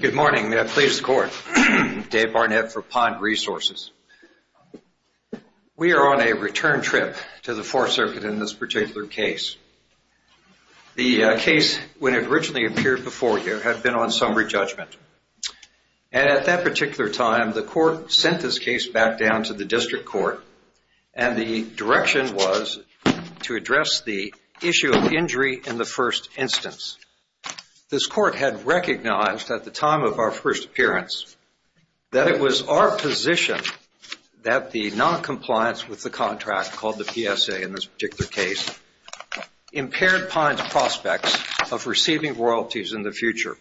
Good morning. Please, the Court. Dave Barnett for Pine Resources. We are on a return trip to the Fourth Circuit in this particular case. The case, when it originally appeared before you, had been on summary judgment. And at that particular time, the Court sent this case back down to the District Court, and the direction was to address the issue of injury in the first instance. This Court had recognized, at the time of our first appearance, that it was our position that the noncompliance with the contract, called the PSA in this particular case, impaired Pine's prospects of receiving royalties in the future.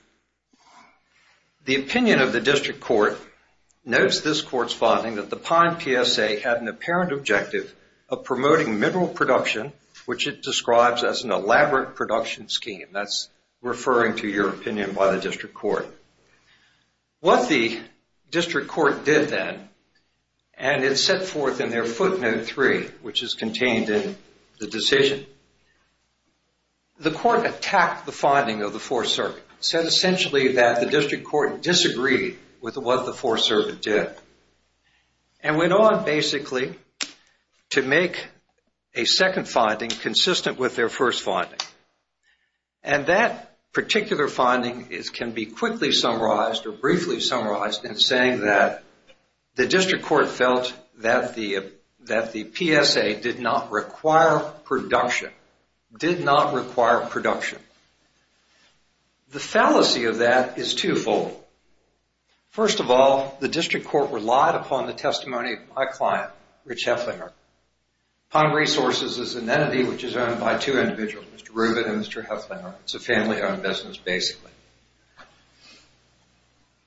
The opinion of the District Court notes this Court's finding that the Pine PSA had an apparent objective of promoting mineral production, which it describes as an elaborate production scheme. That's referring to your opinion by the District Court. What the District Court did then, and it's set forth in their footnote 3, which is contained in the decision, the Court attacked the finding of the Fourth Circuit. It said, essentially, that the District Court disagreed with what the Fourth Circuit did, and went on, basically, to make a second finding consistent with their first finding. And that particular finding can be quickly summarized, or briefly summarized, in saying that the District Court felt that the PSA did not require production. Did not require production. The fallacy of that is twofold. First of all, the District Court relied upon the testimony of my client, Rich Hefflinger. Pine Resources is an entity which is owned by two individuals, Mr. Rubin and Mr. Hefflinger. It's a family-owned business, basically.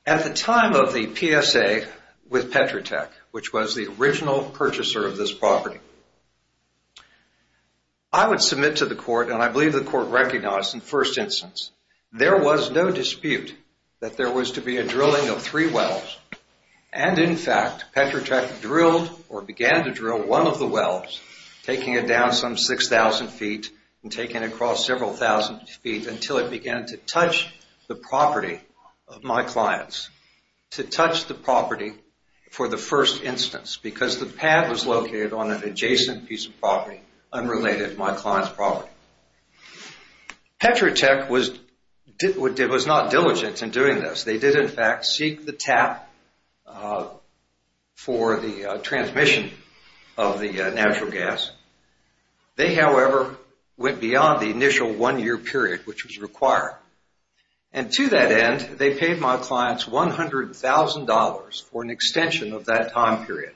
At the time of the PSA with Petrotech, which was the original purchaser of this property, I would submit to the Court, and I believe the Court recognized in the first instance, there was no dispute that there was to be a drilling of three wells. And, in fact, Petrotech drilled, or began to drill, one of the wells, taking it down some 6,000 feet and taking it across several thousand feet until it began to touch the property of my client's. To touch the property for the first instance, because the pad was located on an adjacent piece of property, unrelated to my client's property. Petrotech was not diligent in doing this. They did, in fact, seek the tap for the transmission of the natural gas. They, however, went beyond the initial one-year period which was required. And to that end, they paid my client $100,000 for an extension of that time period.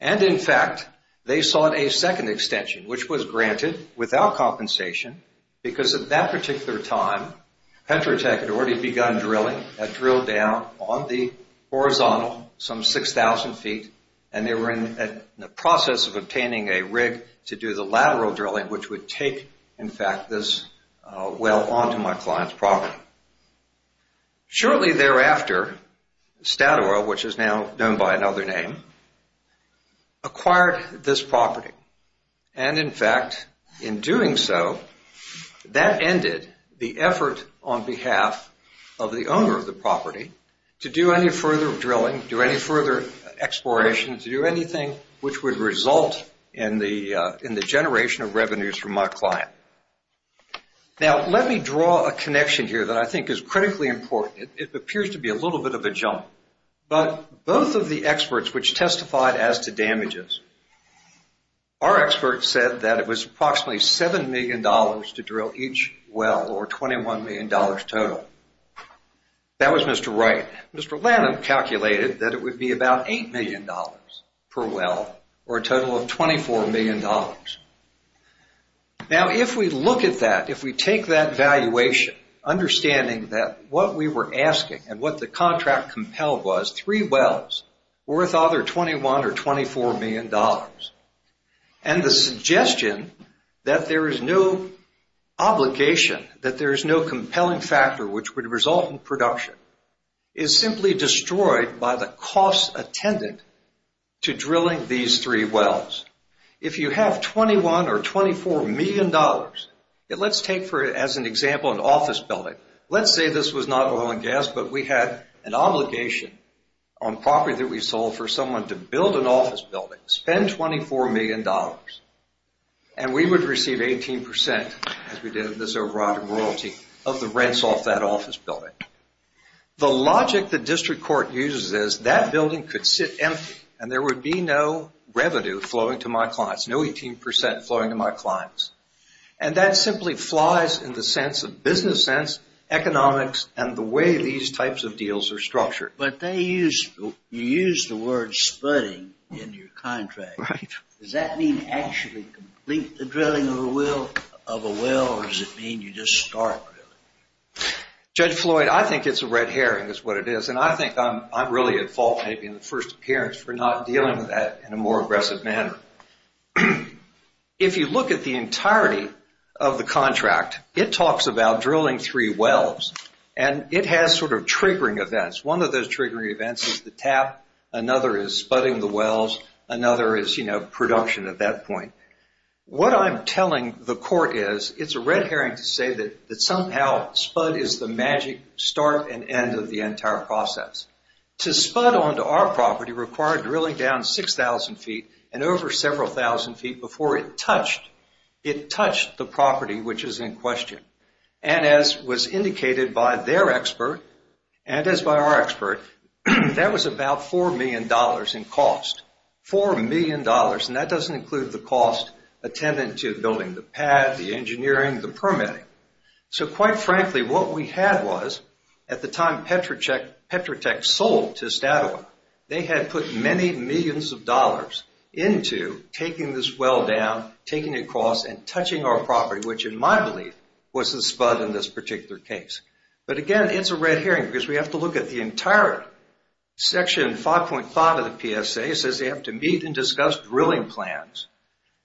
And, in fact, they sought a second extension, which was granted without compensation, because at that particular time, Petrotech had already begun drilling, had drilled down on the horizontal some 6,000 feet, and they were in the process of obtaining a rig to do the lateral drilling, which would take, in fact, this well onto my client's property. Shortly thereafter, Statoil, which is now known by another name, acquired this property. And, in fact, in doing so, that ended the effort on behalf of the owner of the property to do any further drilling, do any further exploration, to do anything which would result in the generation of revenues from my client. Now, let me draw a connection here that I think is critically important. It appears to be a little bit of a jump. But both of the experts which testified as to damages, our experts said that it was approximately $7 million to drill each well, or $21 million total. That was Mr. Wright. Mr. Lanham calculated that it would be about $8 million per well, or a total of $24 million. Now, if we look at that, if we take that valuation, understanding that what we were asking and what the contract compelled was, three wells worth either $21 or $24 million, and the suggestion that there is no obligation, that there is no compelling factor which would result in production, is simply destroyed by the costs attended to drilling these three wells. If you have $21 or $24 million, let's take as an example an office building. Let's say this was not oil and gas, but we had an obligation on property that we sold for someone to build an office building, spend $24 million. And we would receive 18%, as we did with this overriding royalty, of the rents off that office building. The logic the district court uses is that building could sit empty, and there would be no revenue flowing to my clients, no 18% flowing to my clients. And that simply flies in the sense of business sense, economics, and the way these types of deals are structured. But you used the word splitting in your contract. Does that mean actually complete the drilling of a well, or does it mean you just start drilling? Judge Floyd, I think it's a red herring is what it is. And I think I'm really at fault maybe in the first appearance for not dealing with that in a more aggressive manner. If you look at the entirety of the contract, it talks about drilling three wells. And it has sort of triggering events. One of those triggering events is the tap. Another is sputting the wells. Another is, you know, production at that point. What I'm telling the court is it's a red herring to say that somehow spud is the magic start and end of the entire process. To spud onto our property required drilling down 6,000 feet and over several thousand feet before it touched the property which is in question. And as was indicated by their expert, and as by our expert, that was about $4 million in cost. $4 million, and that doesn't include the cost attendant to building the pad, the engineering, the permitting. So quite frankly, what we had was at the time Petrotech sold to Statoil, they had put many millions of dollars into taking this well down, taking it across, and touching our property, which in my belief was the spud in this particular case. But again, it's a red herring because we have to look at the entire section, 5.5 of the PSA, it says they have to meet and discuss drilling plans.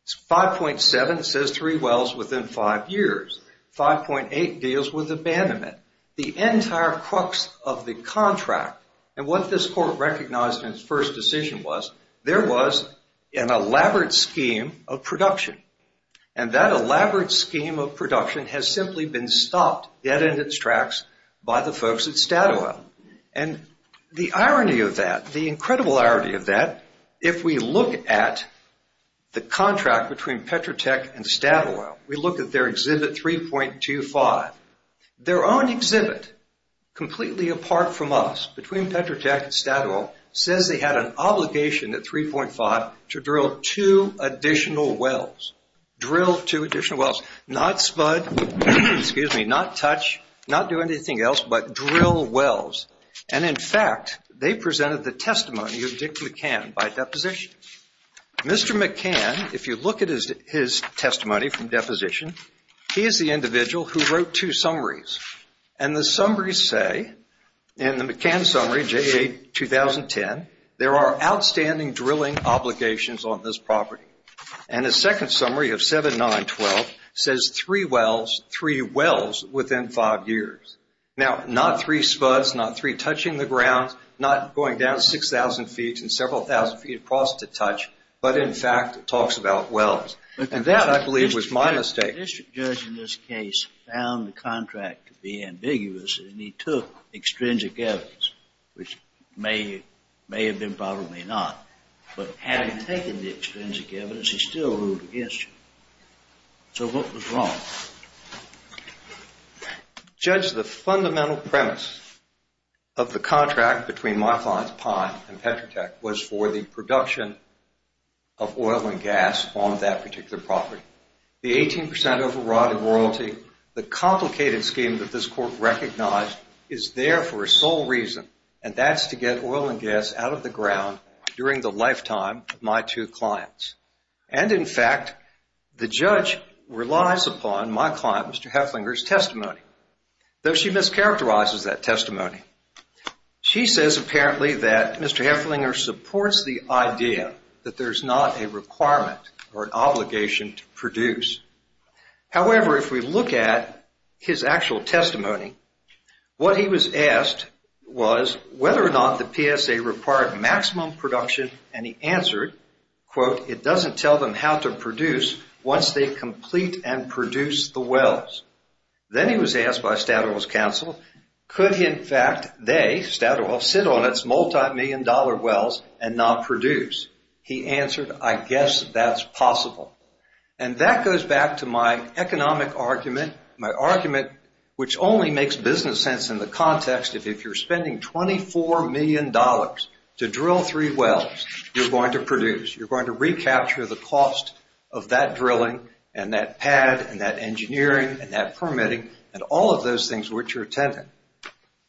It's 5.7, it says three wells within five years. 5.8 deals with abandonment. The entire crux of the contract, and what this court recognized in its first decision was, there was an elaborate scheme of production. And that elaborate scheme of production has simply been stopped dead in its tracks by the folks at Statoil. And the irony of that, the incredible irony of that, if we look at the contract between Petrotech and Statoil, we look at their exhibit 3.25. Their own exhibit, completely apart from us, between Petrotech and Statoil, says they had an obligation at 3.5 to drill two additional wells. Drill two additional wells. Not spud, not touch, not do anything else, but drill wells. And in fact, they presented the testimony of Dick McCann by deposition. Mr. McCann, if you look at his testimony from deposition, he is the individual who wrote two summaries. And the summaries say, in the McCann summary, J.A. 2010, there are outstanding drilling obligations on this property. And the second summary of 7.9.12 says three wells within five years. Now, not three spuds, not three touching the ground, not going down 6,000 feet and several thousand feet across to touch, but in fact it talks about wells. And that, I believe, was my mistake. The district judge in this case found the contract to be ambiguous, and he took extrinsic evidence, which may have been, probably not. But had he taken the extrinsic evidence, he still ruled against you. So what was wrong? Judge, the fundamental premise of the contract between my clients, Pine and Petrotech, was for the production of oil and gas on that particular property. The 18% overriding royalty, the complicated scheme that this court recognized, is there for a sole reason, and that's to get oil and gas out of the ground during the lifetime of my two clients. And, in fact, the judge relies upon my client, Mr. Hefflinger's, testimony, though she mischaracterizes that testimony. She says, apparently, that Mr. Hefflinger supports the idea that there's not a requirement or an obligation to produce. However, if we look at his actual testimony, what he was asked was whether or not the PSA required maximum production, and he answered, quote, it doesn't tell them how to produce once they complete and produce the wells. Then he was asked by Statoil's counsel, could, in fact, they, Statoil, sit on its multimillion-dollar wells and not produce? He answered, I guess that's possible. And that goes back to my economic argument, my argument which only makes business sense in the context of if you're spending $24 million to drill three wells, you're going to produce. You're going to recapture the cost of that drilling and that pad and that engineering and that permitting and all of those things which you're attending.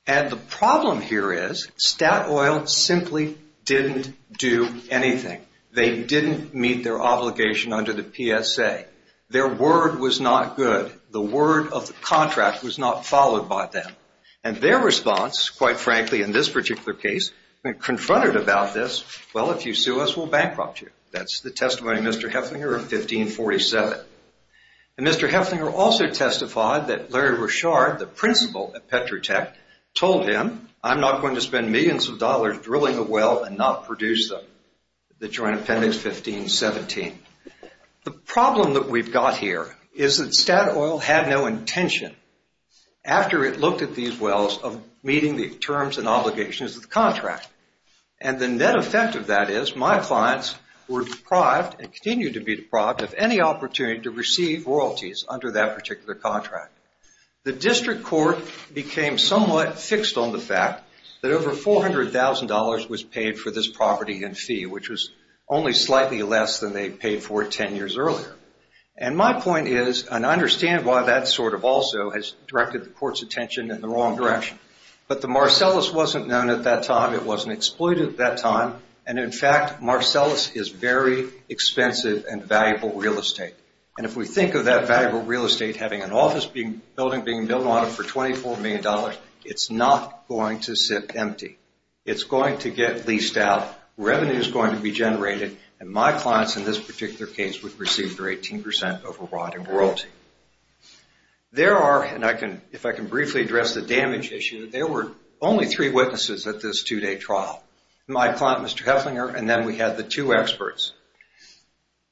And the problem here is Statoil simply didn't do anything. They didn't meet their obligation under the PSA. Their word was not good. The word of the contract was not followed by them. And their response, quite frankly, in this particular case, when confronted about this, well, if you sue us, we'll bankrupt you. That's the testimony of Mr. Hefflinger in 1547. And Mr. Hefflinger also testified that Larry Richard, the principal at Petrotech, told him, I'm not going to spend millions of dollars drilling a well and not produce them, the Joint Appendix 1517. The problem that we've got here is that Statoil had no intention. After it looked at these wells of meeting the terms and obligations of the contract, and the net effect of that is my clients were deprived and continue to be deprived of any opportunity to receive royalties under that particular contract. The district court became somewhat fixed on the fact that over $400,000 was paid for this property in fee, which was only slightly less than they paid for it 10 years earlier. And my point is, and I understand why that sort of also has directed the court's attention in the wrong direction, but the Marcellus wasn't known at that time. It wasn't exploited at that time. And in fact, Marcellus is very expensive and valuable real estate. And if we think of that valuable real estate having an office building being built on it for $24 million, it's not going to sit empty. It's going to get leased out. Revenue is going to be generated. And my clients in this particular case would receive their 18% of a royalty. There are, and if I can briefly address the damage issue, there were only three witnesses at this two-day trial. My client, Mr. Hefflinger, and then we had the two experts.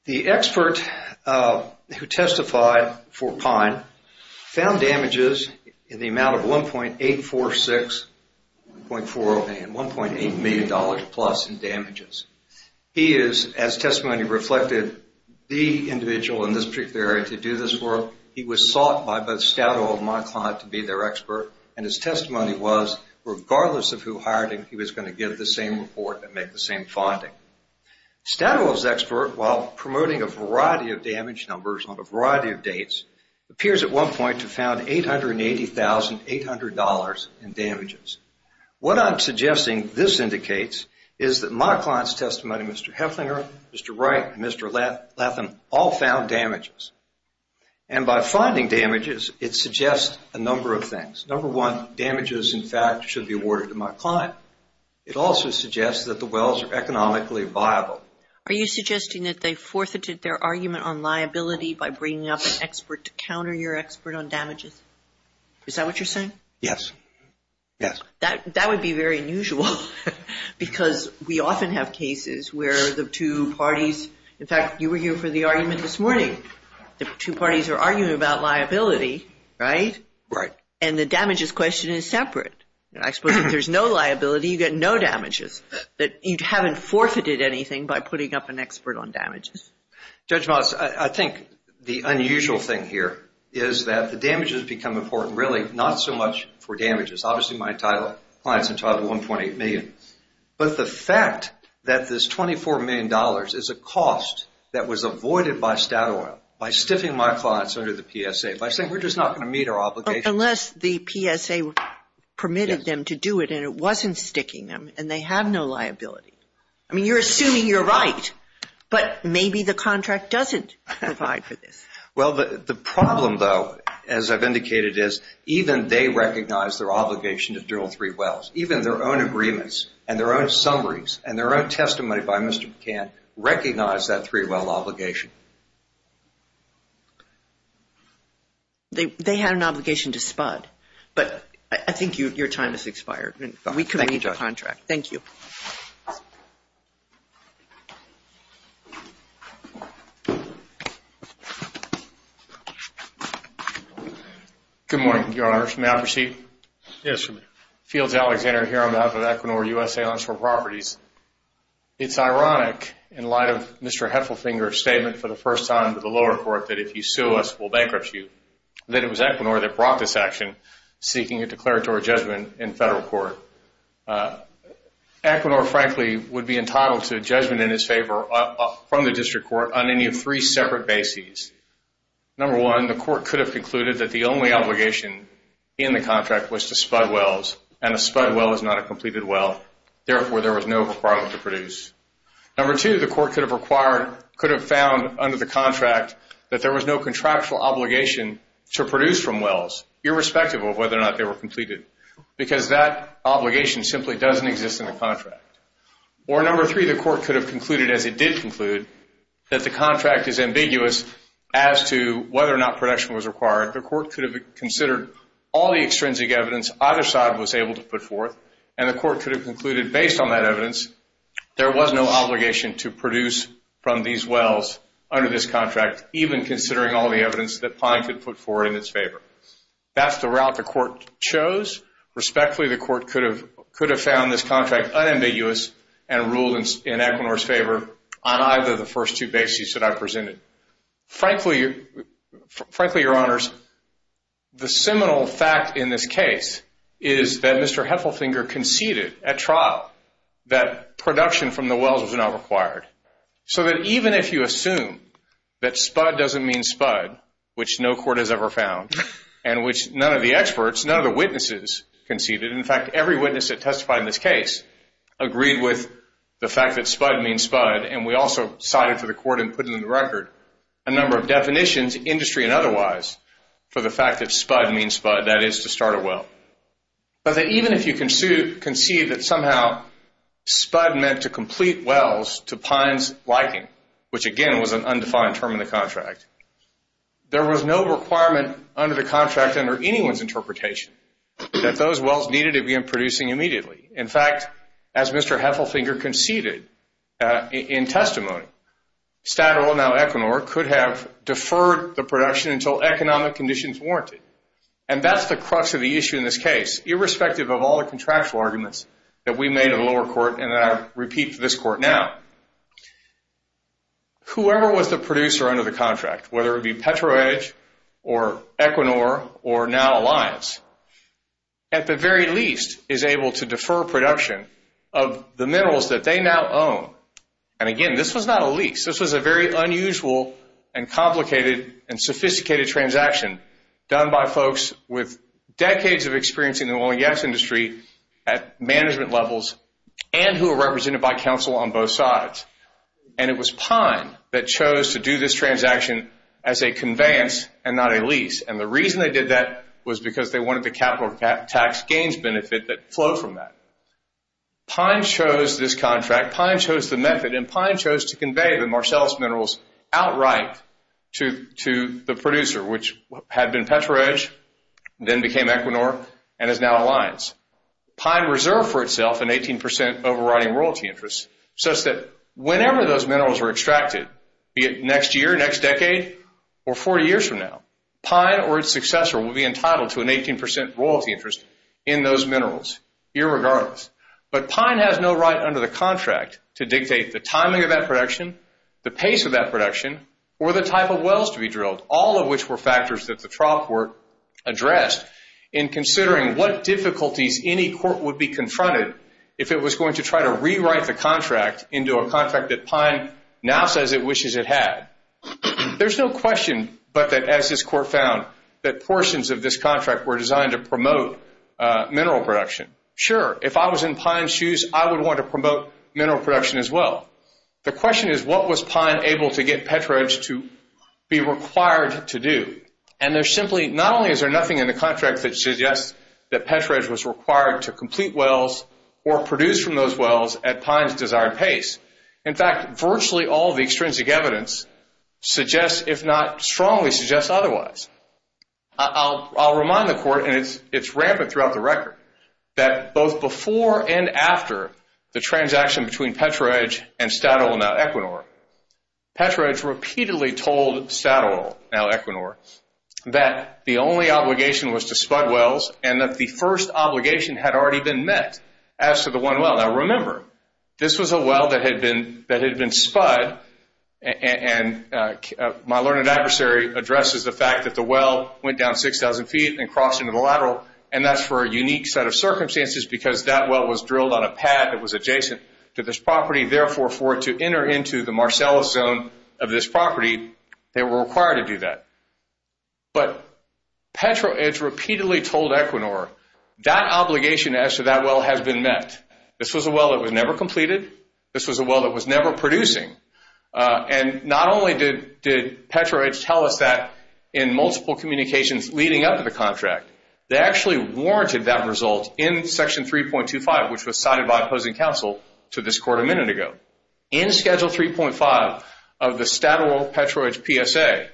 The expert who testified for Pine found damages in the amount of $1.846 million, $1.8 million plus in damages. He is, as testimony reflected, the individual in this particular area to do this work. He was sought by both Stato and my client to be their expert. And his testimony was, regardless of who hired him, he was going to give the same report and make the same finding. Stato's expert, while promoting a variety of damage numbers on a variety of dates, appears at one point to have found $880,800 in damages. What I'm suggesting this indicates is that my client's testimony, Mr. Hefflinger, Mr. Wright, and Mr. Latham, all found damages. And by finding damages, it suggests a number of things. Number one, damages, in fact, should be awarded to my client. It also suggests that the wells are economically viable. Are you suggesting that they forfeited their argument on liability by bringing up an expert to counter your expert on damages? Is that what you're saying? Yes. That would be very unusual because we often have cases where the two parties, in fact, you were here for the argument this morning. The two parties are arguing about liability, right? Right. And the damages question is separate. I suppose if there's no liability, you get no damages. You haven't forfeited anything by putting up an expert on damages. Judge Moss, I think the unusual thing here is that the damages become important, really, not so much for damages. Obviously, my client's entitled to $1.8 million. But the fact that this $24 million is a cost that was avoided by Statoil, by stiffing my clients under the PSA, by saying we're just not going to meet our obligations. Unless the PSA permitted them to do it and it wasn't sticking them and they have no liability. I mean, you're assuming you're right, but maybe the contract doesn't provide for this. Well, the problem, though, as I've indicated, is even they recognize their obligation to drill three wells. Even their own agreements and their own summaries and their own testimony by Mr. McCann recognize that three-well obligation. They had an obligation to spud. But I think your time has expired. We can read your contract. Thank you. Good morning, Your Honor. May I proceed? Yes, you may. Fields Alexander here on behalf of Equinor USA Onshore Properties. It's ironic, in light of Mr. Heffelfinger's statement for the first time to the lower court that if you sue us, we'll bankrupt you, that it was Equinor that brought this action, seeking a declaratory judgment in federal court. Equinor, frankly, would be entitled to a judgment in his favor from the district court on any of three separate bases. Number one, the court could have concluded that the only obligation in the contract was to spud wells, and a spud well is not a completed well. Therefore, there was no requirement to produce. Number two, the court could have found under the contract that there was no contractual obligation to produce from wells, irrespective of whether or not they were completed, because that obligation simply doesn't exist in the contract. Or number three, the court could have concluded, as it did conclude, that the contract is ambiguous as to whether or not production was required. The court could have considered all the extrinsic evidence either side was able to put forth, and the court could have concluded, based on that evidence, there was no obligation to produce from these wells under this contract, even considering all the evidence that Pine could put forth in its favor. That's the route the court chose. Respectfully, the court could have found this contract unambiguous and ruled in Equinor's favor on either of the first two bases that I presented. Frankly, Your Honors, the seminal fact in this case is that Mr. Heffelfinger conceded at trial that production from the wells was not required. So that even if you assume that spud doesn't mean spud, which no court has ever found, and which none of the experts, none of the witnesses conceded. In fact, every witness that testified in this case agreed with the fact that spud means spud, and we also cited to the court and put it in the record a number of definitions, industry and otherwise, for the fact that spud means spud, that is to start a well. But that even if you concede that somehow spud meant to complete wells to Pine's liking, which again was an undefined term in the contract, there was no requirement under the contract under anyone's interpretation that those wells needed to begin producing immediately. In fact, as Mr. Heffelfinger conceded in testimony, Statoil, now Equinor, could have deferred the production until economic conditions warranted. And that's the crux of the issue in this case, irrespective of all the contractual arguments that we made in the lower court and that I repeat to this court now. Whoever was the producer under the contract, whether it be Petro-Edge or Equinor or now Alliance, at the very least is able to defer production of the minerals that they now own. And again, this was not a lease. This was a very unusual and complicated and sophisticated transaction done by folks with decades of experience in the oil and gas industry at management levels and who were represented by counsel on both sides. And it was Pine that chose to do this transaction as a conveyance and not a lease. And the reason they did that was because they wanted the capital tax gains benefit that flowed from that. Pine chose this contract. Pine chose the method. And Pine chose to convey the Marsalis minerals outright to the producer, which had been Petro-Edge, then became Equinor, and is now Alliance. Pine reserved for itself an 18% overriding royalty interest such that whenever those minerals were extracted, be it next year, next decade, or 40 years from now, Pine or its successor will be entitled to an 18% royalty interest in those minerals, irregardless. But Pine has no right under the contract to dictate the timing of that production, the pace of that production, or the type of wells to be drilled, all of which were factors that the trial court addressed in considering what difficulties any court would be confronted if it was going to try to rewrite the contract into a contract that Pine now says it wishes it had. There's no question but that, as this court found, that portions of this contract were designed to promote mineral production. Sure, if I was in Pine's shoes, I would want to promote mineral production as well. The question is, what was Pine able to get Petro-Edge to be required to do? And there's simply, not only is there nothing in the contract that suggests that Petro-Edge was required to complete wells or produce from those wells at Pine's desired pace. In fact, virtually all of the extrinsic evidence suggests, if not strongly suggests otherwise. I'll remind the court, and it's rampant throughout the record, that both before and after the transaction between Petro-Edge and Statoil, now Equinor, Petro-Edge repeatedly told Statoil, now Equinor, that the only obligation was to spud wells and that the first obligation had already been met as to the one well. Now remember, this was a well that had been spud, and my learned adversary addresses the fact that the well went down 6,000 feet and crossed into the lateral, and that's for a unique set of circumstances because that well was drilled on a pad that was adjacent to this property. Therefore, for it to enter into the Marcellus zone of this property, they were required to do that. But Petro-Edge repeatedly told Equinor, that obligation as to that well has been met. This was a well that was never completed. This was a well that was never producing. And not only did Petro-Edge tell us that in multiple communications leading up to the contract, they actually warranted that result in Section 3.25, which was cited by opposing counsel to this court a minute ago. In Schedule 3.5 of the Statoil-Petro-Edge PSA,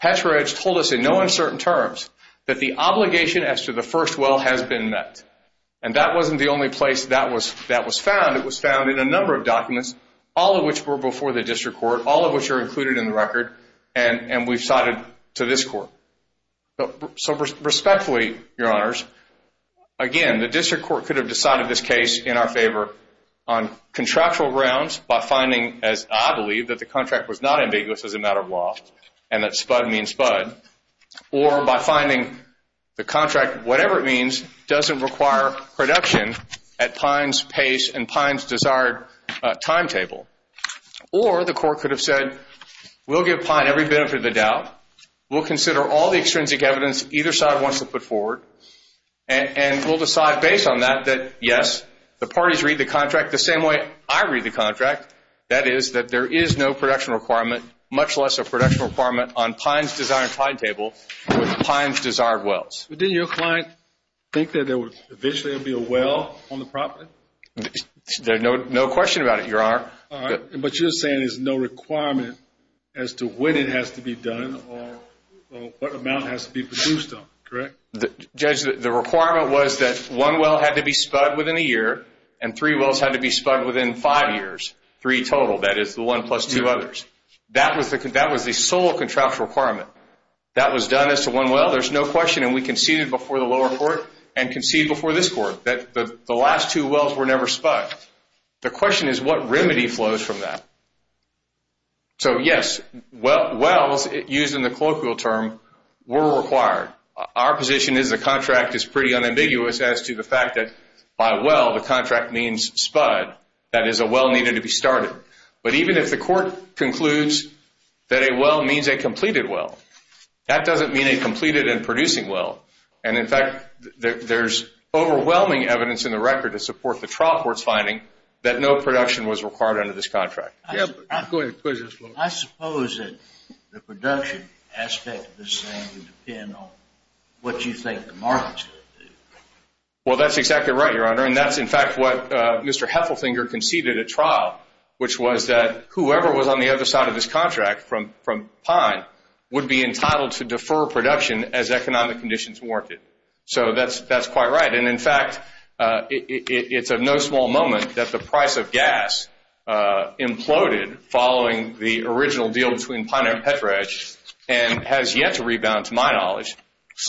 Petro-Edge told us in no uncertain terms that the obligation as to the first well has been met. And that wasn't the only place that was found. It was found in a number of documents, all of which were before the district court, all of which are included in the record, and we've cited to this court. So respectfully, Your Honors, again, the district court could have decided this case in our favor on contractual grounds by finding, as I believe, that the contract was not ambiguous as a matter of law and that spud means spud, or by finding the contract, whatever it means, doesn't require production at Pine's pace and Pine's desired timetable. Or the court could have said, we'll give Pine every benefit of the doubt. We'll consider all the extrinsic evidence either side wants to put forward, and we'll decide based on that that, yes, the parties read the contract the same way I read the contract, that is, that there is no production requirement, much less a production requirement on Pine's desired timetable with Pine's desired wells. But didn't your client think that there would eventually be a well on the property? No question about it, Your Honor. All right. But you're saying there's no requirement as to when it has to be done or what amount has to be produced on it, correct? Judge, the requirement was that one well had to be spud within a year, and three wells had to be spud within five years, three total. That is, the one plus two others. That was the sole contractual requirement. That was done as to one well, there's no question, and we conceded before the lower court and conceded before this court that the last two wells were never spud. The question is what remedy flows from that. So, yes, wells used in the colloquial term were required. Our position is the contract is pretty unambiguous as to the fact that by well, the contract means spud, that is, a well needed to be started. But even if the court concludes that a well means a completed well, that doesn't mean a completed and producing well. And, in fact, there's overwhelming evidence in the record to support the trial court's finding that no production was required under this contract. I suppose that the production aspect of this thing would depend on what you think the market should do. Well, that's exactly right, Your Honor, and that's, in fact, what Mr. Heffelfinger conceded at trial, which was that whoever was on the other side of this contract from Pine would be entitled to defer production as economic conditions warranted. So that's quite right. And, in fact, it's of no small moment that the price of gas imploded following the original deal between Pine and Petra Edge and has yet to rebound to my knowledge.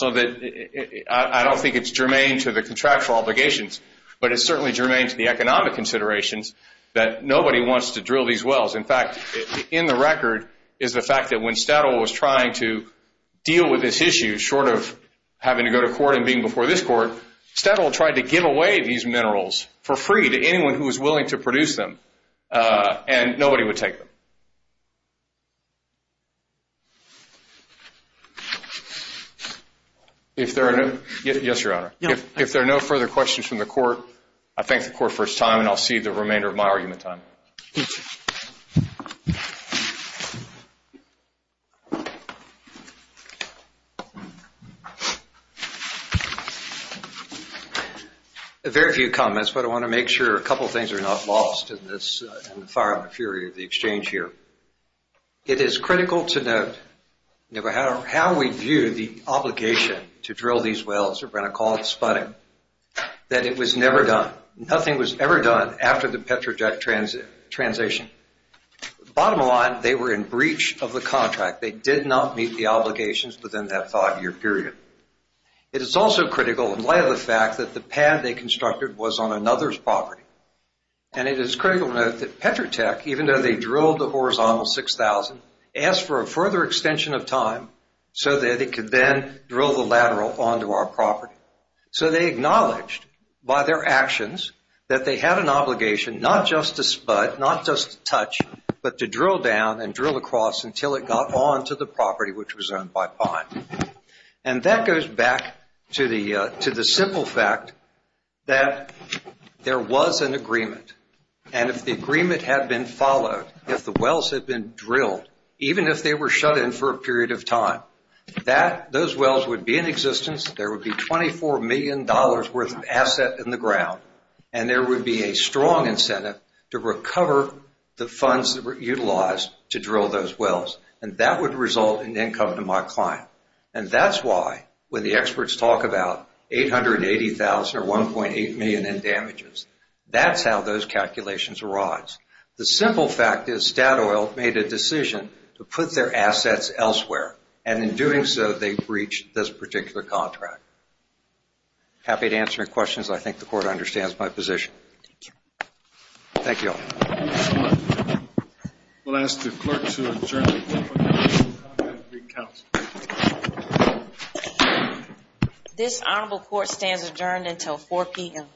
I don't think it's germane to the contractual obligations, but it's certainly germane to the economic considerations that nobody wants to drill these wells. In fact, in the record is the fact that when Stadl was trying to deal with this issue, short of having to go to court and being before this court, Stadl tried to give away these minerals for free to anyone who was willing to produce them, and nobody would take them. Yes, Your Honor. If there are no further questions from the court, I thank the court for its time, and I'll cede the remainder of my argument time. A very few comments, but I want to make sure a couple things are not lost in the fire and the fury of the exchange here. It is critical to note, no matter how we view the obligation to drill these wells, we're going to call it sputting, that it was never done. Nothing was ever done after the Petra Tech transition. Bottom line, they were in breach of the contract. They did not meet the obligations within that five-year period. It is also critical in light of the fact that the pad they constructed was on another's property. It is critical to note that Petra Tech, even though they drilled the horizontal 6,000, asked for a further extension of time so that it could then drill the lateral onto our property. They acknowledged by their actions that they had an obligation not just to sput, not just to touch, but to drill down and drill across until it got onto the property, which was owned by Pine. That goes back to the simple fact that there was an agreement. If the agreement had been followed, if the wells had been drilled, even if they were shut in for a period of time, those wells would be in existence, there would be $24 million worth of asset in the ground, and there would be a strong incentive to recover the funds that were utilized to drill those wells. And that would result in income to my client. And that's why, when the experts talk about $880,000 or $1.8 million in damages, that's how those calculations arise. The simple fact is Statoil made a decision to put their assets elsewhere, and in doing so they breached this particular contract. Happy to answer any questions. I think the Court understands my position. Thank you all. We'll ask the clerk to adjourn until 4 p.m. This Honorable Court stands adjourned until 4 p.m.